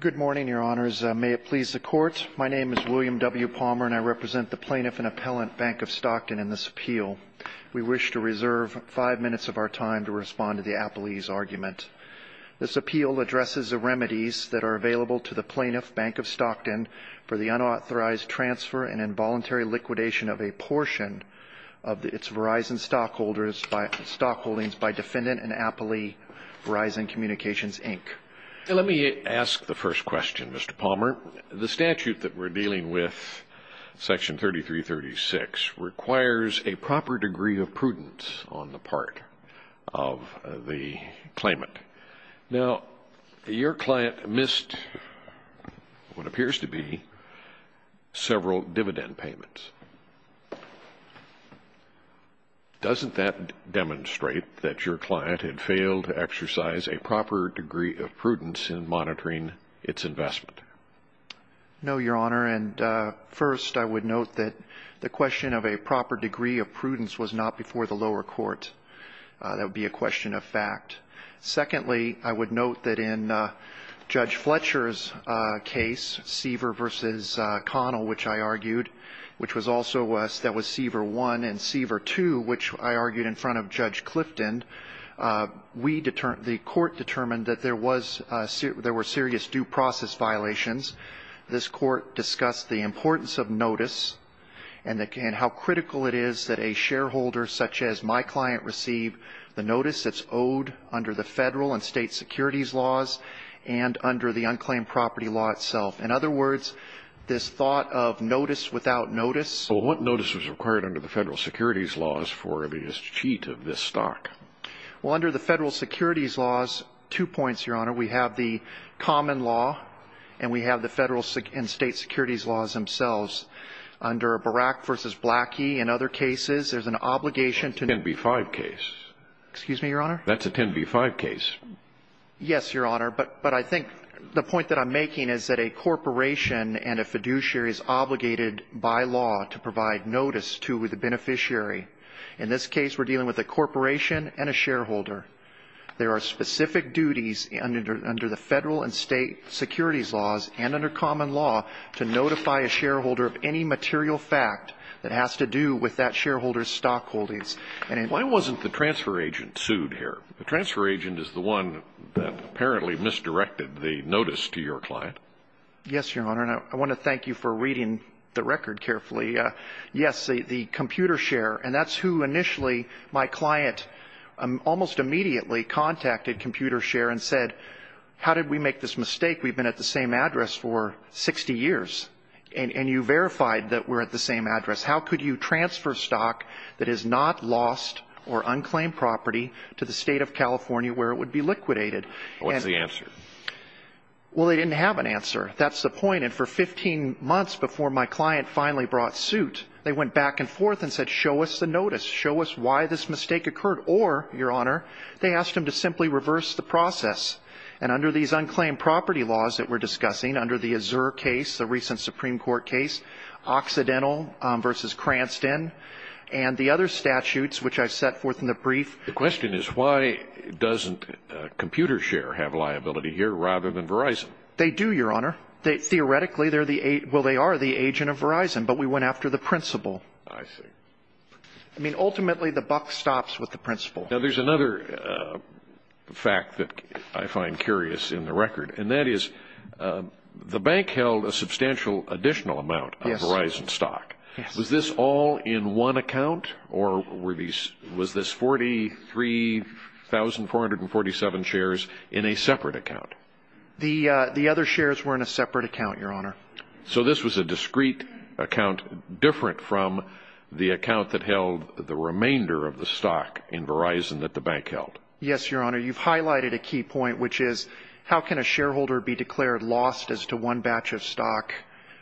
Good morning, Your Honors. May it please the Court. My name is William W. Palmer, and I represent the Plaintiff and Appellant, Bank of Stockton, in this appeal. We wish to reserve five minutes of our time to respond to the Appellee's argument. This appeal addresses the remedies that are available to the Plaintiff, Bank of Stockton, for the unauthorized transfer and involuntary liquidation of a portion of its Verizon stockholdings by defendant and appellee, Verizon Communications, Inc. Let me ask the first question, Mr. Palmer. The statute that we're dealing with, Section 3336, requires a proper degree of prudence on the part of the claimant. Now, your client missed what appears to be several dividend payments. Doesn't that demonstrate that your client had failed to exercise a proper degree of prudence in monitoring its investment? No, Your Honor, and first, I would note that the question of a proper degree of prudence was not before the lower court. That would be a question of fact. Secondly, I would note that in Judge Fletcher's case, Siever v. Connell, which I argued, which was also Siever 1 and Siever 2, which I argued in front of Judge Clifton, the court determined that there were serious due process violations. This court discussed the importance of notice and how critical it is that a shareholder such as my client receive the notice that's owed under the federal and state securities laws and under the unclaimed property law itself. In other words, this thought of notice without notice. Well, what notice was required under the federal securities laws for the cheat of this stock? Well, under the federal securities laws, two points, Your Honor. We have the common law and we have the federal and state securities laws themselves. Under Barak v. Blackie and other cases, there's an obligation to That's a 10b-5 case. Excuse me, Your Honor? That's a 10b-5 case. Yes, Your Honor, but I think the point that I'm making is that a corporation and a fiduciary is obligated by law to provide notice to the beneficiary. In this case, we're dealing with a corporation and a shareholder. There are specific duties under the federal and state securities laws and under common law to notify a shareholder of any material fact that has to do with that shareholder's stock holdings. Why wasn't the transfer agent sued here? The transfer agent is the one that apparently misdirected the notice to your client. Yes, Your Honor, and I want to thank you for reading the record carefully. Yes, the computer share, and that's who initially my client almost immediately contacted computer share and said, How did we make this mistake? We've been at the same address for 60 years, and you verified that we're at the same address. How could you transfer stock that is not lost or unclaimed property to the state of California where it would be liquidated? What's the answer? Well, they didn't have an answer. That's the point. And for 15 months before my client finally brought suit, they went back and forth and said, Show us the notice. Show us why this mistake occurred. Or, Your Honor, they asked him to simply reverse the process. And under these unclaimed property laws that we're discussing, under the Azure case, the recent Supreme Court case, Occidental v. Cranston, and the other statutes which I've set forth in the brief. The question is, why doesn't computer share have liability here rather than Verizon? They do, Your Honor. Theoretically, well, they are the agent of Verizon, but we went after the principal. I see. I mean, ultimately, the buck stops with the principal. Now, there's another fact that I find curious in the record, and that is the bank held a substantial additional amount of Verizon stock. Was this all in one account, or was this 43,447 shares in a separate account? The other shares were in a separate account, Your Honor. So this was a discrete account different from the account that held the remainder of the stock in Verizon that the bank held? Yes, Your Honor. You've highlighted a key point, which is, how can a shareholder be declared lost as to one batch of stock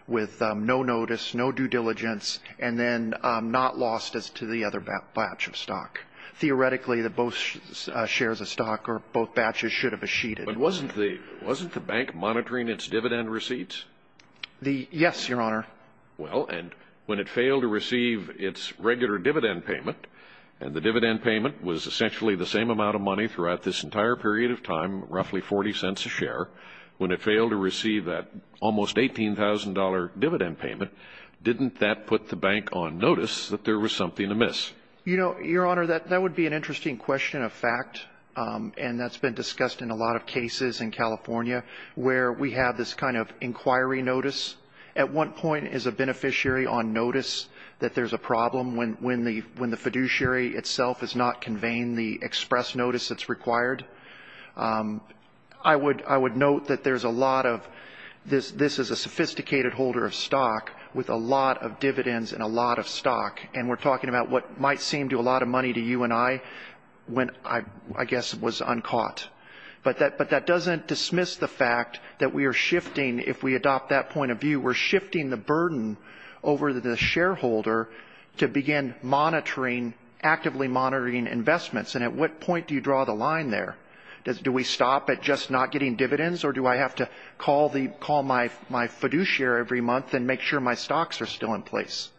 with no notice, no due diligence, and then not lost as to the other batch of stock? Theoretically, both shares of stock or both batches should have been sheeted. But wasn't the bank monitoring its dividend receipts? Yes, Your Honor. Well, and when it failed to receive its regular dividend payment, and the dividend payment was essentially the same amount of money throughout this entire period of time, roughly 40 cents a share, when it failed to receive that almost $18,000 dividend payment, didn't that put the bank on notice that there was something amiss? You know, Your Honor, that would be an interesting question of fact, and that's been discussed in a lot of cases in California where we have this kind of inquiry notice. At one point is a beneficiary on notice that there's a problem when the fiduciary itself is not conveying the express notice that's required. I would note that there's a lot of this is a sophisticated holder of stock with a lot of dividends and a lot of stock, and we're talking about what might seem to a lot of money to you and I when I guess was uncaught. But that doesn't dismiss the fact that we are shifting, if we adopt that point of view, we're shifting the burden over the shareholder to begin monitoring, actively monitoring investments. And at what point do you draw the line there? Do we stop at just not getting dividends, or do I have to call my fiduciary every month and make sure my stocks are still in place?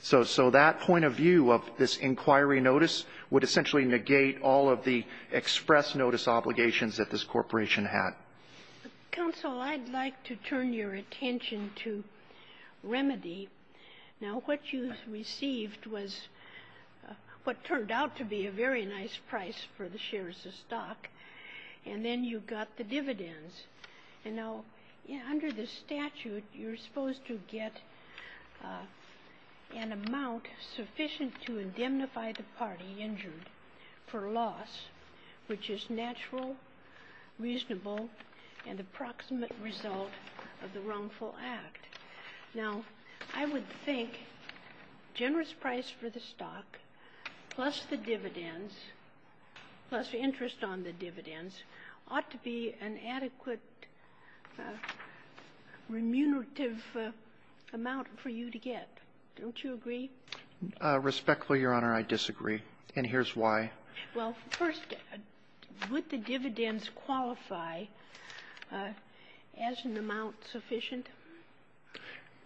So that point of view of this inquiry notice would essentially negate all of the express notice obligations that this corporation had. Counsel, I'd like to turn your attention to remedy. Now, what you received was what turned out to be a very nice price for the shares of stock, and then you got the dividends. And now, under the statute, you're supposed to get an amount sufficient to indemnify the party injured for loss, which is natural, reasonable, and approximate result of the wrongful act. Now, I would think generous price for the stock, plus the dividends, plus interest on the dividends, ought to be an adequate remunerative amount for you to get. Don't you agree? Respectfully, Your Honor, I disagree. And here's why. Well, first, would the dividends qualify as an amount sufficient?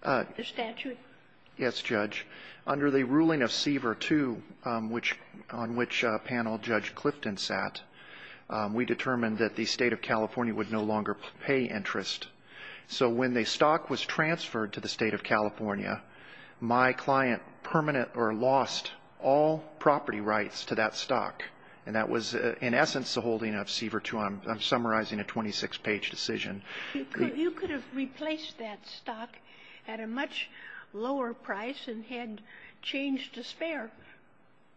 The statute? Yes, Judge. Under the ruling of Seaver 2, on which panel Judge Clifton sat, we determined that the State of California would no longer pay interest. So when the stock was transferred to the State of California, my client permanent or lost all property rights to that stock. And that was, in essence, the holding of Seaver 2. I'm summarizing a 26-page decision. You could have replaced that stock at a much lower price and had changed to spare.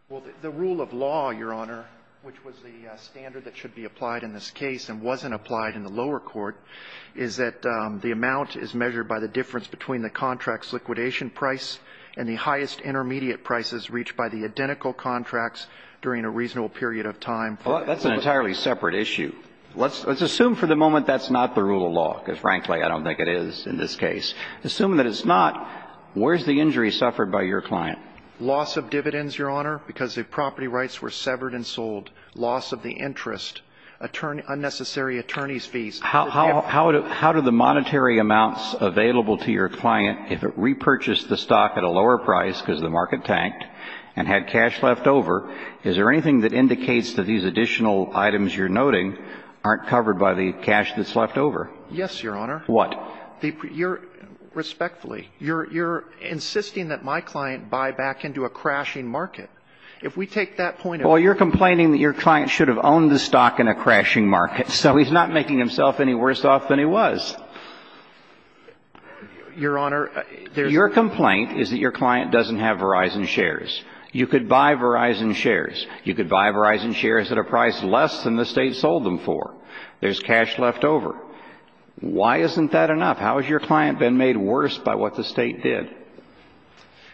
Well, the rule of law, Your Honor, which was the standard that should be applied in this case and wasn't applied in the lower court, is that the amount is measured by the difference between the contract's liquidation price and the highest intermediate prices reached by the identical contracts during a reasonable period of time. Well, that's an entirely separate issue. Let's assume for the moment that's not the rule of law, because, frankly, I don't think it is in this case. Assuming that it's not, where's the injury suffered by your client? Loss of dividends, Your Honor, because the property rights were severed and sold. Loss of the interest, unnecessary attorney's fees. How do the monetary amounts available to your client, if it repurchased the stock at a lower price because the market tanked and had cash left over, is there anything that indicates that these additional items you're noting aren't covered by the cash that's left over? Yes, Your Honor. What? Respectfully, you're insisting that my client buy back into a crashing market. If we take that point of view. Well, you're complaining that your client should have owned the stock in a crashing market, so he's not making himself any worse off than he was. Your Honor, there's. Your complaint is that your client doesn't have Verizon shares. You could buy Verizon shares. You could buy Verizon shares at a price less than the State sold them for. There's cash left over. Why isn't that enough? How has your client been made worse by what the State did?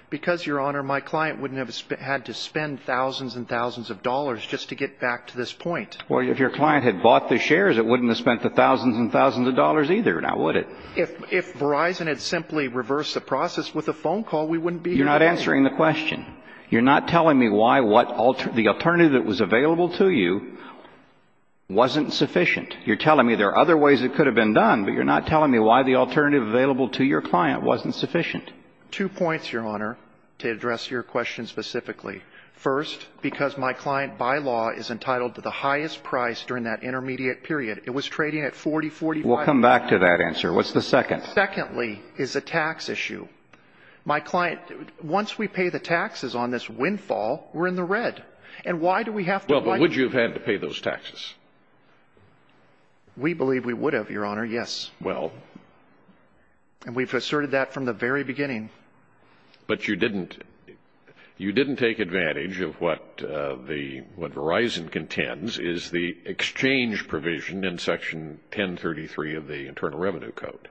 Because, Your Honor, my client wouldn't have had to spend thousands and thousands of dollars just to get back to this point. Well, if your client had bought the shares, it wouldn't have spent the thousands and thousands of dollars either, now would it? If Verizon had simply reversed the process with a phone call, we wouldn't be here today. You're not answering the question. You're not telling me why the alternative that was available to you wasn't sufficient. You're telling me there are other ways it could have been done, but you're not telling me why the alternative available to your client wasn't sufficient. Two points, Your Honor, to address your question specifically. First, because my client, by law, is entitled to the highest price during that intermediate period. It was trading at $40, $45. We'll come back to that answer. What's the second? Secondly, is a tax issue. My client, once we pay the taxes on this windfall, we're in the red. And why do we have to? Well, but would you have had to pay those taxes? We believe we would have, Your Honor, yes. Well. And we've asserted that from the very beginning. But you didn't take advantage of what Verizon contends is the exchange provision in Section 1033 of the Internal Revenue Code.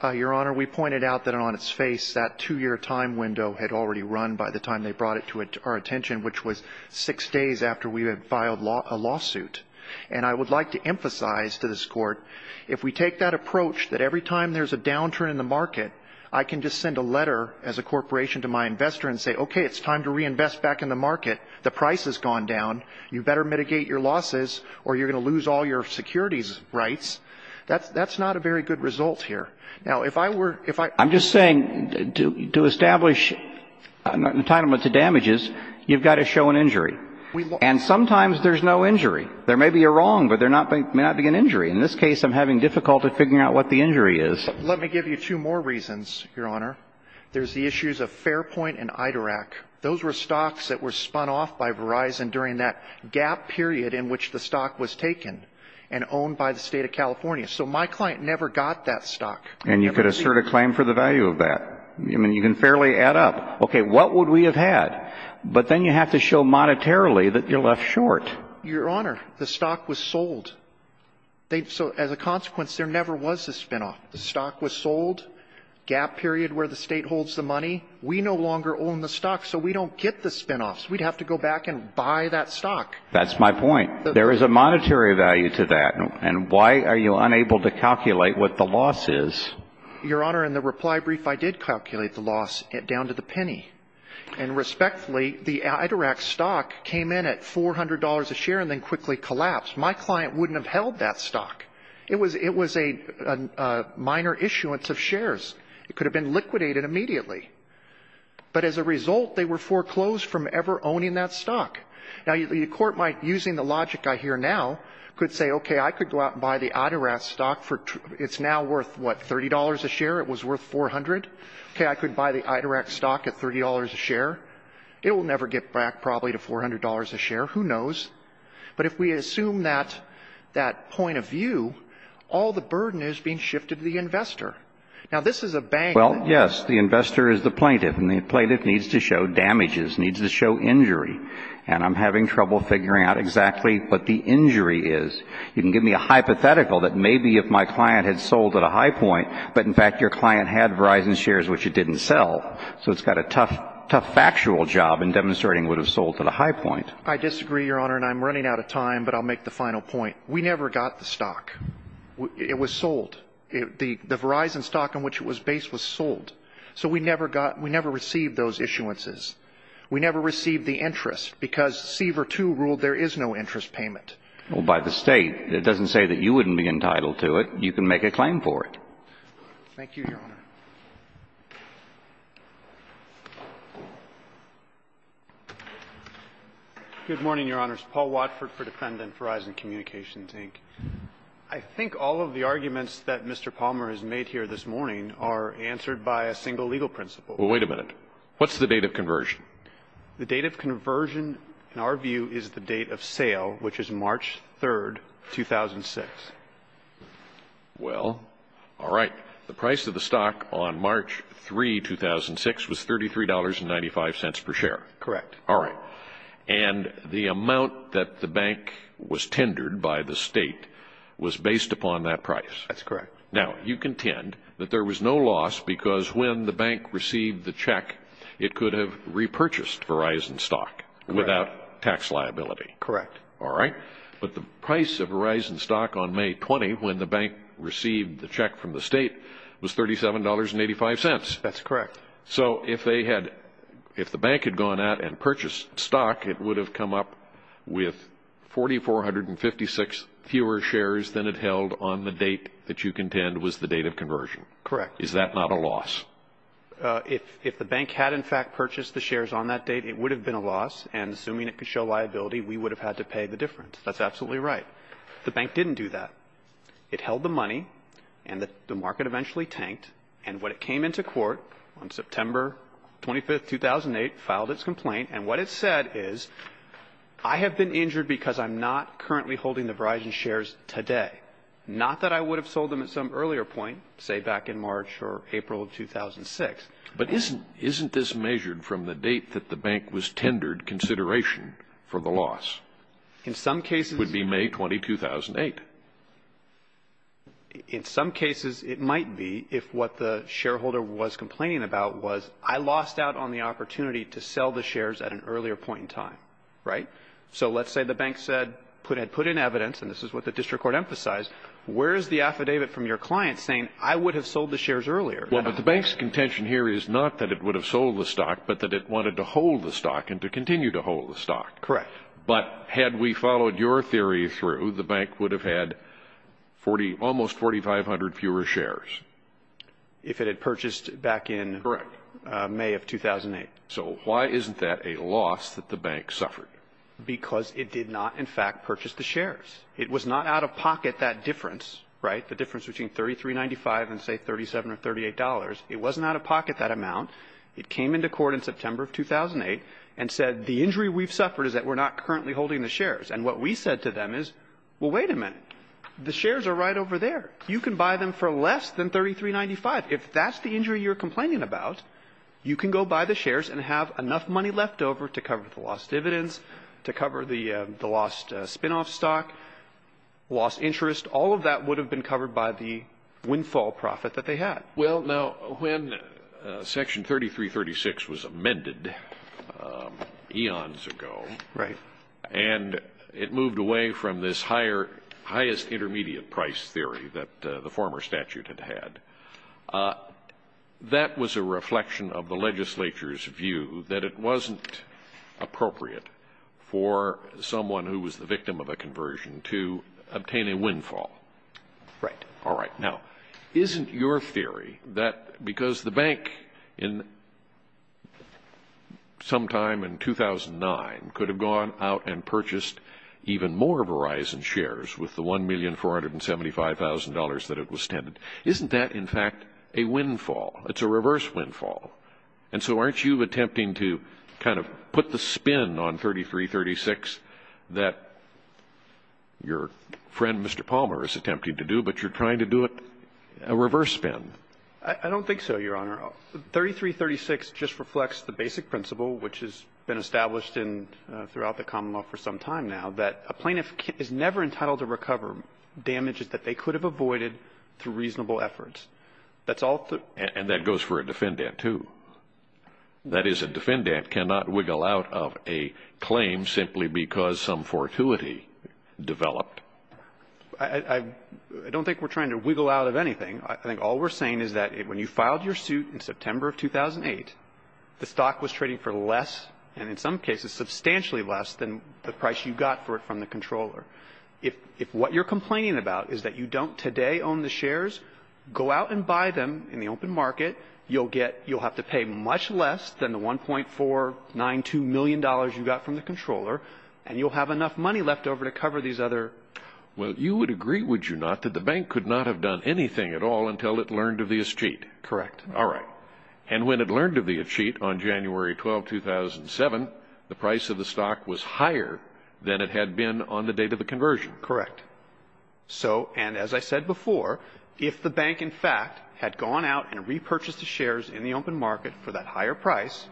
Your Honor, we pointed out that on its face that two-year time window had already run by the time they brought it to our attention, which was six days after we had filed a lawsuit. And I would like to emphasize to this Court, if we take that approach that every time there's a downturn in the market, I can just send a letter as a corporation to my investor and say, okay, it's time to reinvest back in the market. The price has gone down. You better mitigate your losses or you're going to lose all your securities rights. That's not a very good result here. Now, if I were to ---- I'm just saying to establish entitlement to damages, you've got to show an injury. And sometimes there's no injury. There may be a wrong, but there may not be an injury. In this case, I'm having difficulty figuring out what the injury is. Let me give you two more reasons, Your Honor. There's the issues of Fairpoint and IDRAC. Those were stocks that were spun off by Verizon during that gap period in which the stock was taken and owned by the State of California. So my client never got that stock. And you could assert a claim for the value of that. I mean, you can fairly add up. Okay, what would we have had? But then you have to show monetarily that you're left short. Your Honor, the stock was sold. So as a consequence, there never was a spinoff. The stock was sold, gap period where the State holds the money. We no longer own the stock, so we don't get the spinoffs. We'd have to go back and buy that stock. That's my point. There is a monetary value to that. And why are you unable to calculate what the loss is? And respectfully, the IDRAC stock came in at $400 a share and then quickly collapsed. My client wouldn't have held that stock. It was a minor issuance of shares. It could have been liquidated immediately. But as a result, they were foreclosed from ever owning that stock. Now, your court might, using the logic I hear now, could say, okay, I could go out and buy the IDRAC stock. It's now worth, what, $30 a share? It was worth $400? Okay, I could buy the IDRAC stock at $30 a share. It will never get back, probably, to $400 a share. Who knows? But if we assume that point of view, all the burden is being shifted to the investor. Now, this is a bank. Well, yes, the investor is the plaintiff, and the plaintiff needs to show damages, needs to show injury. And I'm having trouble figuring out exactly what the injury is. You can give me a hypothetical that may be if my client had sold at a high point, but, in fact, your client had Verizon shares, which it didn't sell. So it's got a tough factual job in demonstrating it would have sold at a high point. I disagree, Your Honor, and I'm running out of time, but I'll make the final point. We never got the stock. It was sold. The Verizon stock on which it was based was sold. So we never received those issuances. We never received the interest because Seaver II ruled there is no interest payment. Well, by the State, it doesn't say that you wouldn't be entitled to it. You can make a claim for it. Thank you, Your Honor. Good morning, Your Honors. Paul Watford for Defendant, Verizon Communications, Inc. I think all of the arguments that Mr. Palmer has made here this morning are answered by a single legal principle. Well, wait a minute. What's the date of conversion? The date of conversion, in our view, is the date of sale, which is March 3, 2006. Well, all right. The price of the stock on March 3, 2006, was $33.95 per share. Correct. All right. And the amount that the bank was tendered by the State was based upon that price. That's correct. Now, you contend that there was no loss because when the bank received the check, it could have repurchased Verizon stock without tax liability. Correct. All right. But the price of Verizon stock on May 20, when the bank received the check from the State, was $37.85. That's correct. So if the bank had gone out and purchased stock, it would have come up with 4,456 fewer shares than it held on the date that you contend was the date of conversion. Correct. Is that not a loss? If the bank had, in fact, purchased the shares on that date, it would have been a loss. And assuming it could show liability, we would have had to pay the difference. That's absolutely right. The bank didn't do that. It held the money, and the market eventually tanked. And when it came into court on September 25, 2008, filed its complaint, and what it said is, I have been injured because I'm not currently holding the Verizon shares today. Not that I would have sold them at some earlier point, say back in March or April of 2006. But isn't this measured from the date that the bank was tendered consideration for the loss? In some cases. It would be May 20, 2008. In some cases, it might be if what the shareholder was complaining about was, I lost out on the opportunity to sell the shares at an earlier point in time. Right? So let's say the bank said, put in evidence, and this is what the district court emphasized, where is the affidavit from your client saying, I would have sold the shares earlier? Well, but the bank's contention here is not that it would have sold the stock, but that it wanted to hold the stock and to continue to hold the stock. Correct. But had we followed your theory through, the bank would have had almost 4,500 fewer shares. If it had purchased back in May of 2008. So why isn't that a loss that the bank suffered? Because it did not, in fact, purchase the shares. It was not out of pocket that difference, right? The difference between 33.95 and, say, 37 or 38 dollars. It wasn't out of pocket that amount. It came into court in September of 2008 and said, the injury we've suffered is that we're not currently holding the shares. And what we said to them is, well, wait a minute. The shares are right over there. You can buy them for less than 33.95. If that's the injury you're complaining about, you can go buy the shares and have enough money left over to cover the lost dividends, to cover the lost spinoff stock, lost interest. All of that would have been covered by the windfall profit that they had. Well, now, when Section 3336 was amended eons ago. Right. And it moved away from this highest intermediate price theory that the former statute had had. That was a reflection of the legislature's view that it wasn't appropriate for someone who was the victim of a conversion to obtain a windfall. Right. All right. Now, isn't your theory that because the bank, sometime in 2009, could have gone out and purchased even more Verizon shares with the $1,475,000 that it was tended, isn't that, in fact, a windfall? It's a reverse windfall. And so aren't you attempting to kind of put the spin on 3336 that your friend Mr. Palmer is attempting to do, but you're trying to do it a reverse spin? I don't think so, Your Honor. 3336 just reflects the basic principle, which has been established throughout the common law for some time now, that a plaintiff is never entitled to recover damages that they could have avoided through reasonable efforts. And that goes for a defendant, too. That is, a defendant cannot wiggle out of a claim simply because some fortuity developed. I don't think we're trying to wiggle out of anything. I think all we're saying is that when you filed your suit in September of 2008, the stock was trading for less, and in some cases substantially less, than the price you got for it from the controller. If what you're complaining about is that you don't today own the shares, go out and buy them in the open market. You'll get you'll have to pay much less than the $1.492 million you got from the controller, and you'll have enough money left over to cover these other. Well, you would agree, would you not, that the bank could not have done anything at all until it learned of the cheat? Correct. All right. And when it learned of the cheat on January 12, 2007, the price of the stock was higher than it had been on the date of the conversion? Correct. So, and as I said before, if the bank, in fact, had gone out and repurchased the shares in the open market for that higher price,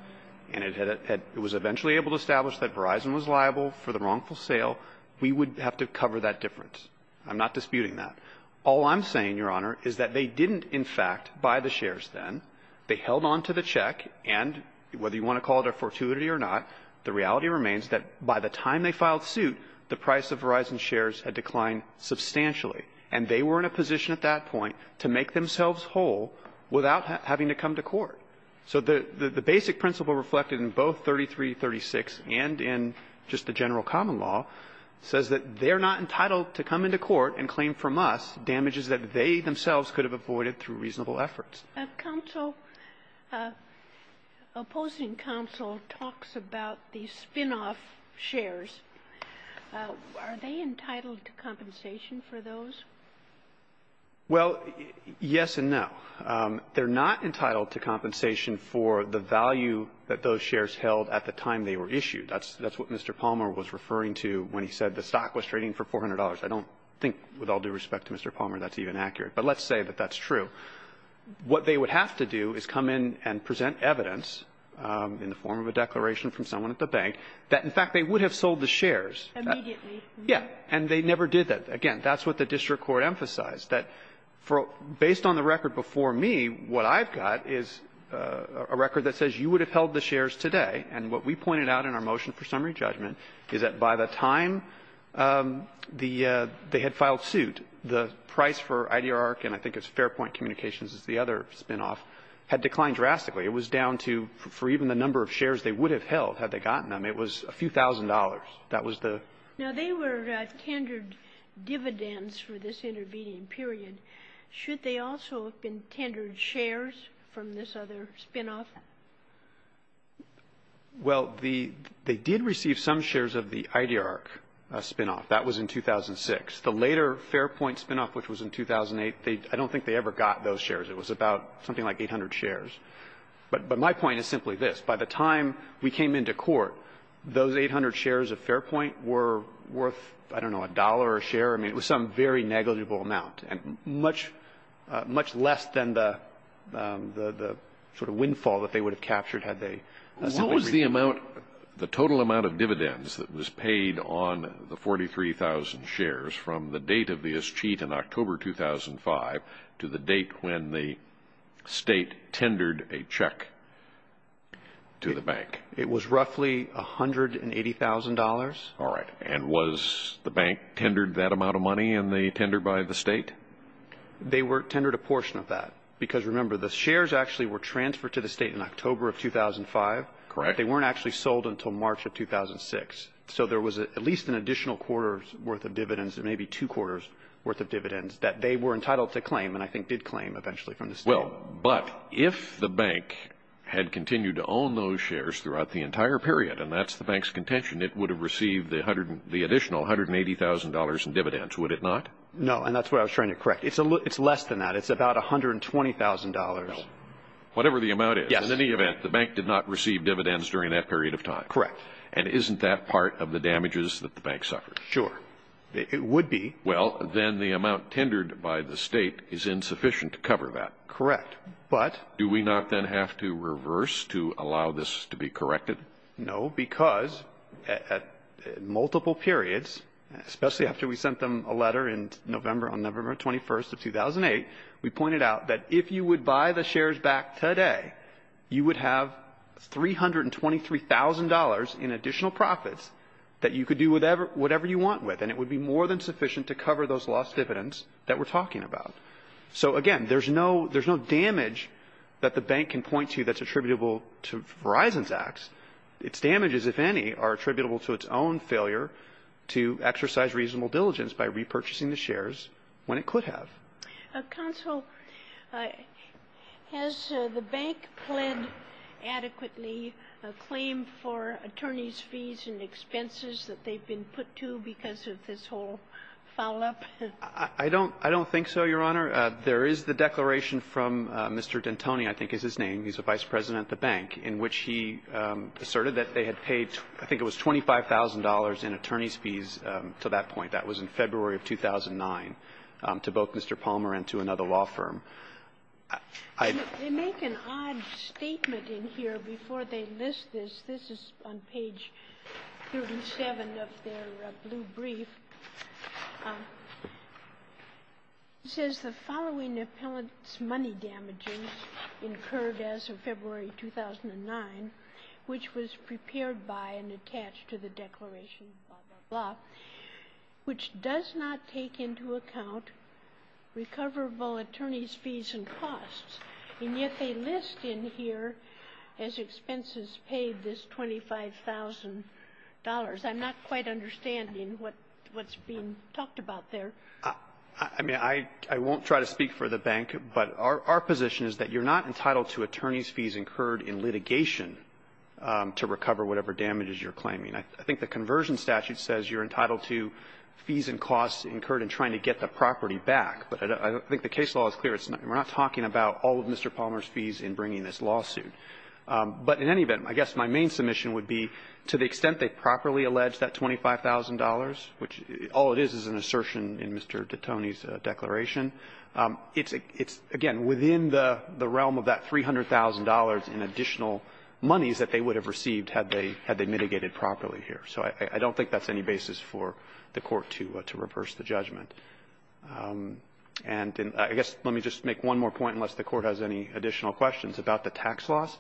and it was eventually able to make themselves liable for the wrongful sale, we would have to cover that difference. I'm not disputing that. All I'm saying, Your Honor, is that they didn't, in fact, buy the shares then. They held on to the check, and whether you want to call it a fortuity or not, the reality remains that by the time they filed suit, the price of Verizon's shares had declined substantially, and they were in a position at that point to make themselves whole without having to come to court. So the basic principle reflected in both 3336 and in just the general common law says that they're not entitled to come into court and claim from us damages that they themselves could have avoided through reasonable efforts. Counsel, opposing counsel talks about the spinoff shares. Are they entitled to compensation for those? Well, yes and no. They're not entitled to compensation for the value that those shares held at the time they were issued. That's what Mr. Palmer was referring to when he said the stock was trading for $400. I don't think, with all due respect to Mr. Palmer, that's even accurate. But let's say that that's true. What they would have to do is come in and present evidence in the form of a declaration from someone at the bank that, in fact, they would have sold the shares. Immediately. And they never did that. And, again, that's what the district court emphasized, that based on the record before me, what I've got is a record that says you would have held the shares today. And what we pointed out in our motion for summary judgment is that by the time the they had filed suit, the price for IDR and I think it's Fairpoint Communications is the other spinoff, had declined drastically. It was down to, for even the number of shares they would have held had they gotten them, it was a few thousand dollars. That was the ---- Now, they were tendered dividends for this intervening period. Should they also have been tendered shares from this other spinoff? Well, the ---- they did receive some shares of the IDR spinoff. That was in 2006. The later Fairpoint spinoff, which was in 2008, they ---- I don't think they ever got those shares. It was about something like 800 shares. But my point is simply this. By the time we came into court, those 800 shares of Fairpoint were worth, I don't know, a dollar a share. I mean, it was some very negligible amount and much, much less than the sort of windfall that they would have captured had they simply ---- What was the amount, the total amount of dividends that was paid on the 43,000 shares from the date of the ISCHEAT in October 2005 to the date when the State tendered a check? To the bank. It was roughly $180,000. All right. And was the bank tendered that amount of money in the tender by the State? They were tendered a portion of that because, remember, the shares actually were transferred to the State in October of 2005. Correct. They weren't actually sold until March of 2006. So there was at least an additional quarter's worth of dividends, maybe two quarters' worth of dividends that they were entitled to claim and I think did claim eventually from the State. Well, but if the bank had continued to own those shares throughout the entire period, and that's the bank's contention, it would have received the additional $180,000 in dividends, would it not? No, and that's what I was trying to correct. It's less than that. It's about $120,000. Whatever the amount is. Yes. In any event, the bank did not receive dividends during that period of time. Correct. And isn't that part of the damages that the bank suffered? Sure. It would be. Well, then the amount tendered by the State is insufficient to cover that. Correct. But? Do we not then have to reverse to allow this to be corrected? No, because at multiple periods, especially after we sent them a letter in November on November 21st of 2008, we pointed out that if you would buy the shares back today, you would have $323,000 in additional profits that you could do whatever you want with, and it would be more than sufficient to cover those lost dividends that we're talking about. So, again, there's no damage that the bank can point to that's attributable to Verizon's acts. Its damages, if any, are attributable to its own failure to exercise reasonable diligence by repurchasing the shares when it could have. Counsel, has the bank pled adequately a claim for attorneys' fees and expenses that they've been put to because of this whole foul-up? I don't think so, Your Honor. There is the declaration from Mr. D'Antoni, I think is his name. He's the vice president at the bank, in which he asserted that they had paid, I think it was $25,000 in attorneys' fees to that point. That was in February of 2009 to both Mr. Palmer and to another law firm. They make an odd statement in here before they list this. This is on page 37 of their blue brief. It says, the following appellant's money damages incurred as of February 2009, which was prepared by and attached to the declaration, blah, blah, blah, which does not take into account recoverable attorneys' fees and costs, and yet they list in here as expenses paid this $25,000. I'm not quite understanding what's being talked about there. I mean, I won't try to speak for the bank, but our position is that you're not entitled to attorneys' fees incurred in litigation to recover whatever damages you're claiming. I think the conversion statute says you're entitled to fees and costs incurred in trying to get the property back, but I don't think the case law is clear. We're not talking about all of Mr. Palmer's fees in bringing this lawsuit. But in any event, I guess my main submission would be, to the extent they properly allege that $25,000, which all it is is an assertion in Mr. DeTone's declaration, it's, again, within the realm of that $300,000 in additional monies that they would have received had they mitigated properly here. So I don't think that's any basis for the Court to reverse the judgment. And I guess let me just make one more point, unless the Court has any additional questions, about the tax loss.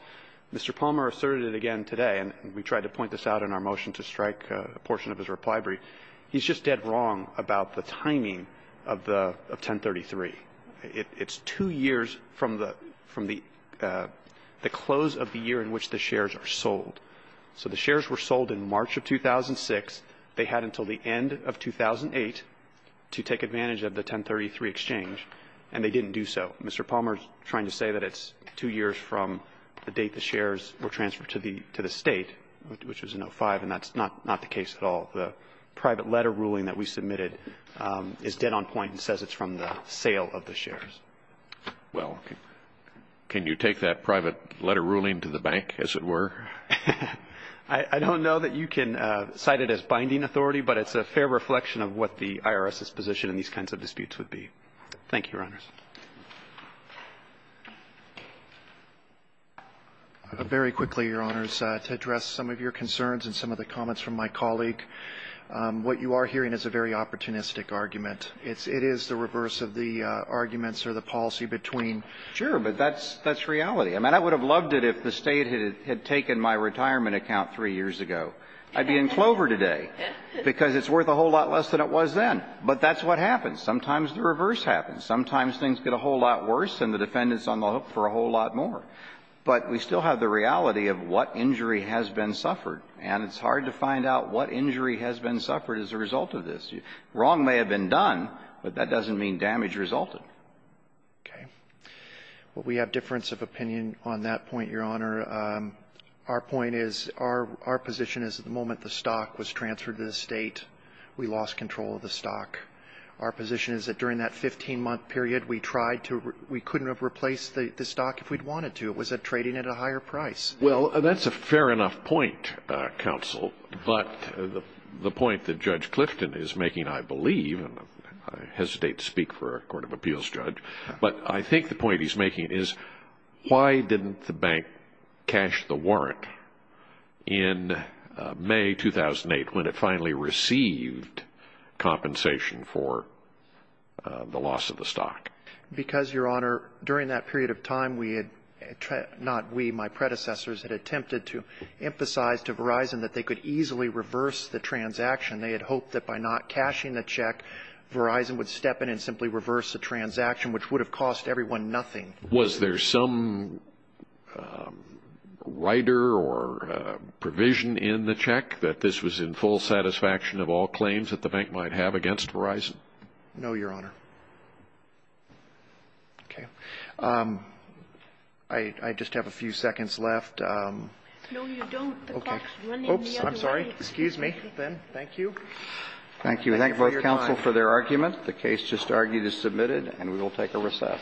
Mr. Palmer asserted it again today, and we tried to point this out in our motion to strike a portion of his reply brief. He's just dead wrong about the timing of the 1033. It's two years from the close of the year in which the shares are sold. So the shares were sold in March of 2006. They had until the end of 2008 to take advantage of the 1033 exchange, and they didn't do so. Mr. Palmer's trying to say that it's two years from the date the shares were transferred to the State, which was in 05, and that's not the case at all. The private letter ruling that we submitted is dead on point and says it's from the sale of the shares. Well, can you take that private letter ruling to the bank, as it were? I don't know that you can cite it as binding authority, but it's a fair reflection of what the IRS's position in these kinds of disputes would be. Thank you, Your Honors. Very quickly, Your Honors, to address some of your concerns and some of the comments from my colleague, what you are hearing is a very opportunistic argument. It is the reverse of the arguments or the policy between. Sure, but that's reality. I mean, I would have loved it if the State had taken my retirement account three years ago. I'd be in Clover today because it's worth a whole lot less than it was then. But that's what happens. Sometimes the reverse happens. Sometimes things get a whole lot worse and the defendant is on the hook for a whole lot more. But we still have the reality of what injury has been suffered, and it's hard to find out what injury has been suffered as a result of this. Wrong may have been done, but that doesn't mean damage resulted. Okay. Well, we have difference of opinion on that point, Your Honor. Our point is, our position is at the moment the stock was transferred to the State, we lost control of the stock. Our position is that during that 15-month period, we tried to we couldn't have replaced the stock if we'd wanted to. It was trading at a higher price. Well, that's a fair enough point, counsel, but the point that Judge Clifton is making, I believe, and I hesitate to speak for a court of appeals judge, but I think the point he's making is, why didn't the bank cash the warrant in May 2008 when it finally received compensation for the loss of the stock? Because, Your Honor, during that period of time, we had not we, my predecessors, had attempted to emphasize to Verizon that they could easily reverse the transaction. They had hoped that by not cashing the check, Verizon would step in and simply reverse the transaction, which would have cost everyone nothing. Was there some rider or provision in the check that this was in full satisfaction of all claims that the bank might have against Verizon? No, Your Honor. Okay. I just have a few seconds left. No, you don't. Okay. Oops, I'm sorry. Excuse me, then. Thank you. Thank you. We thank both counsel for their argument. The case just argued is submitted, and we will take a recess. Thank you. Thank you.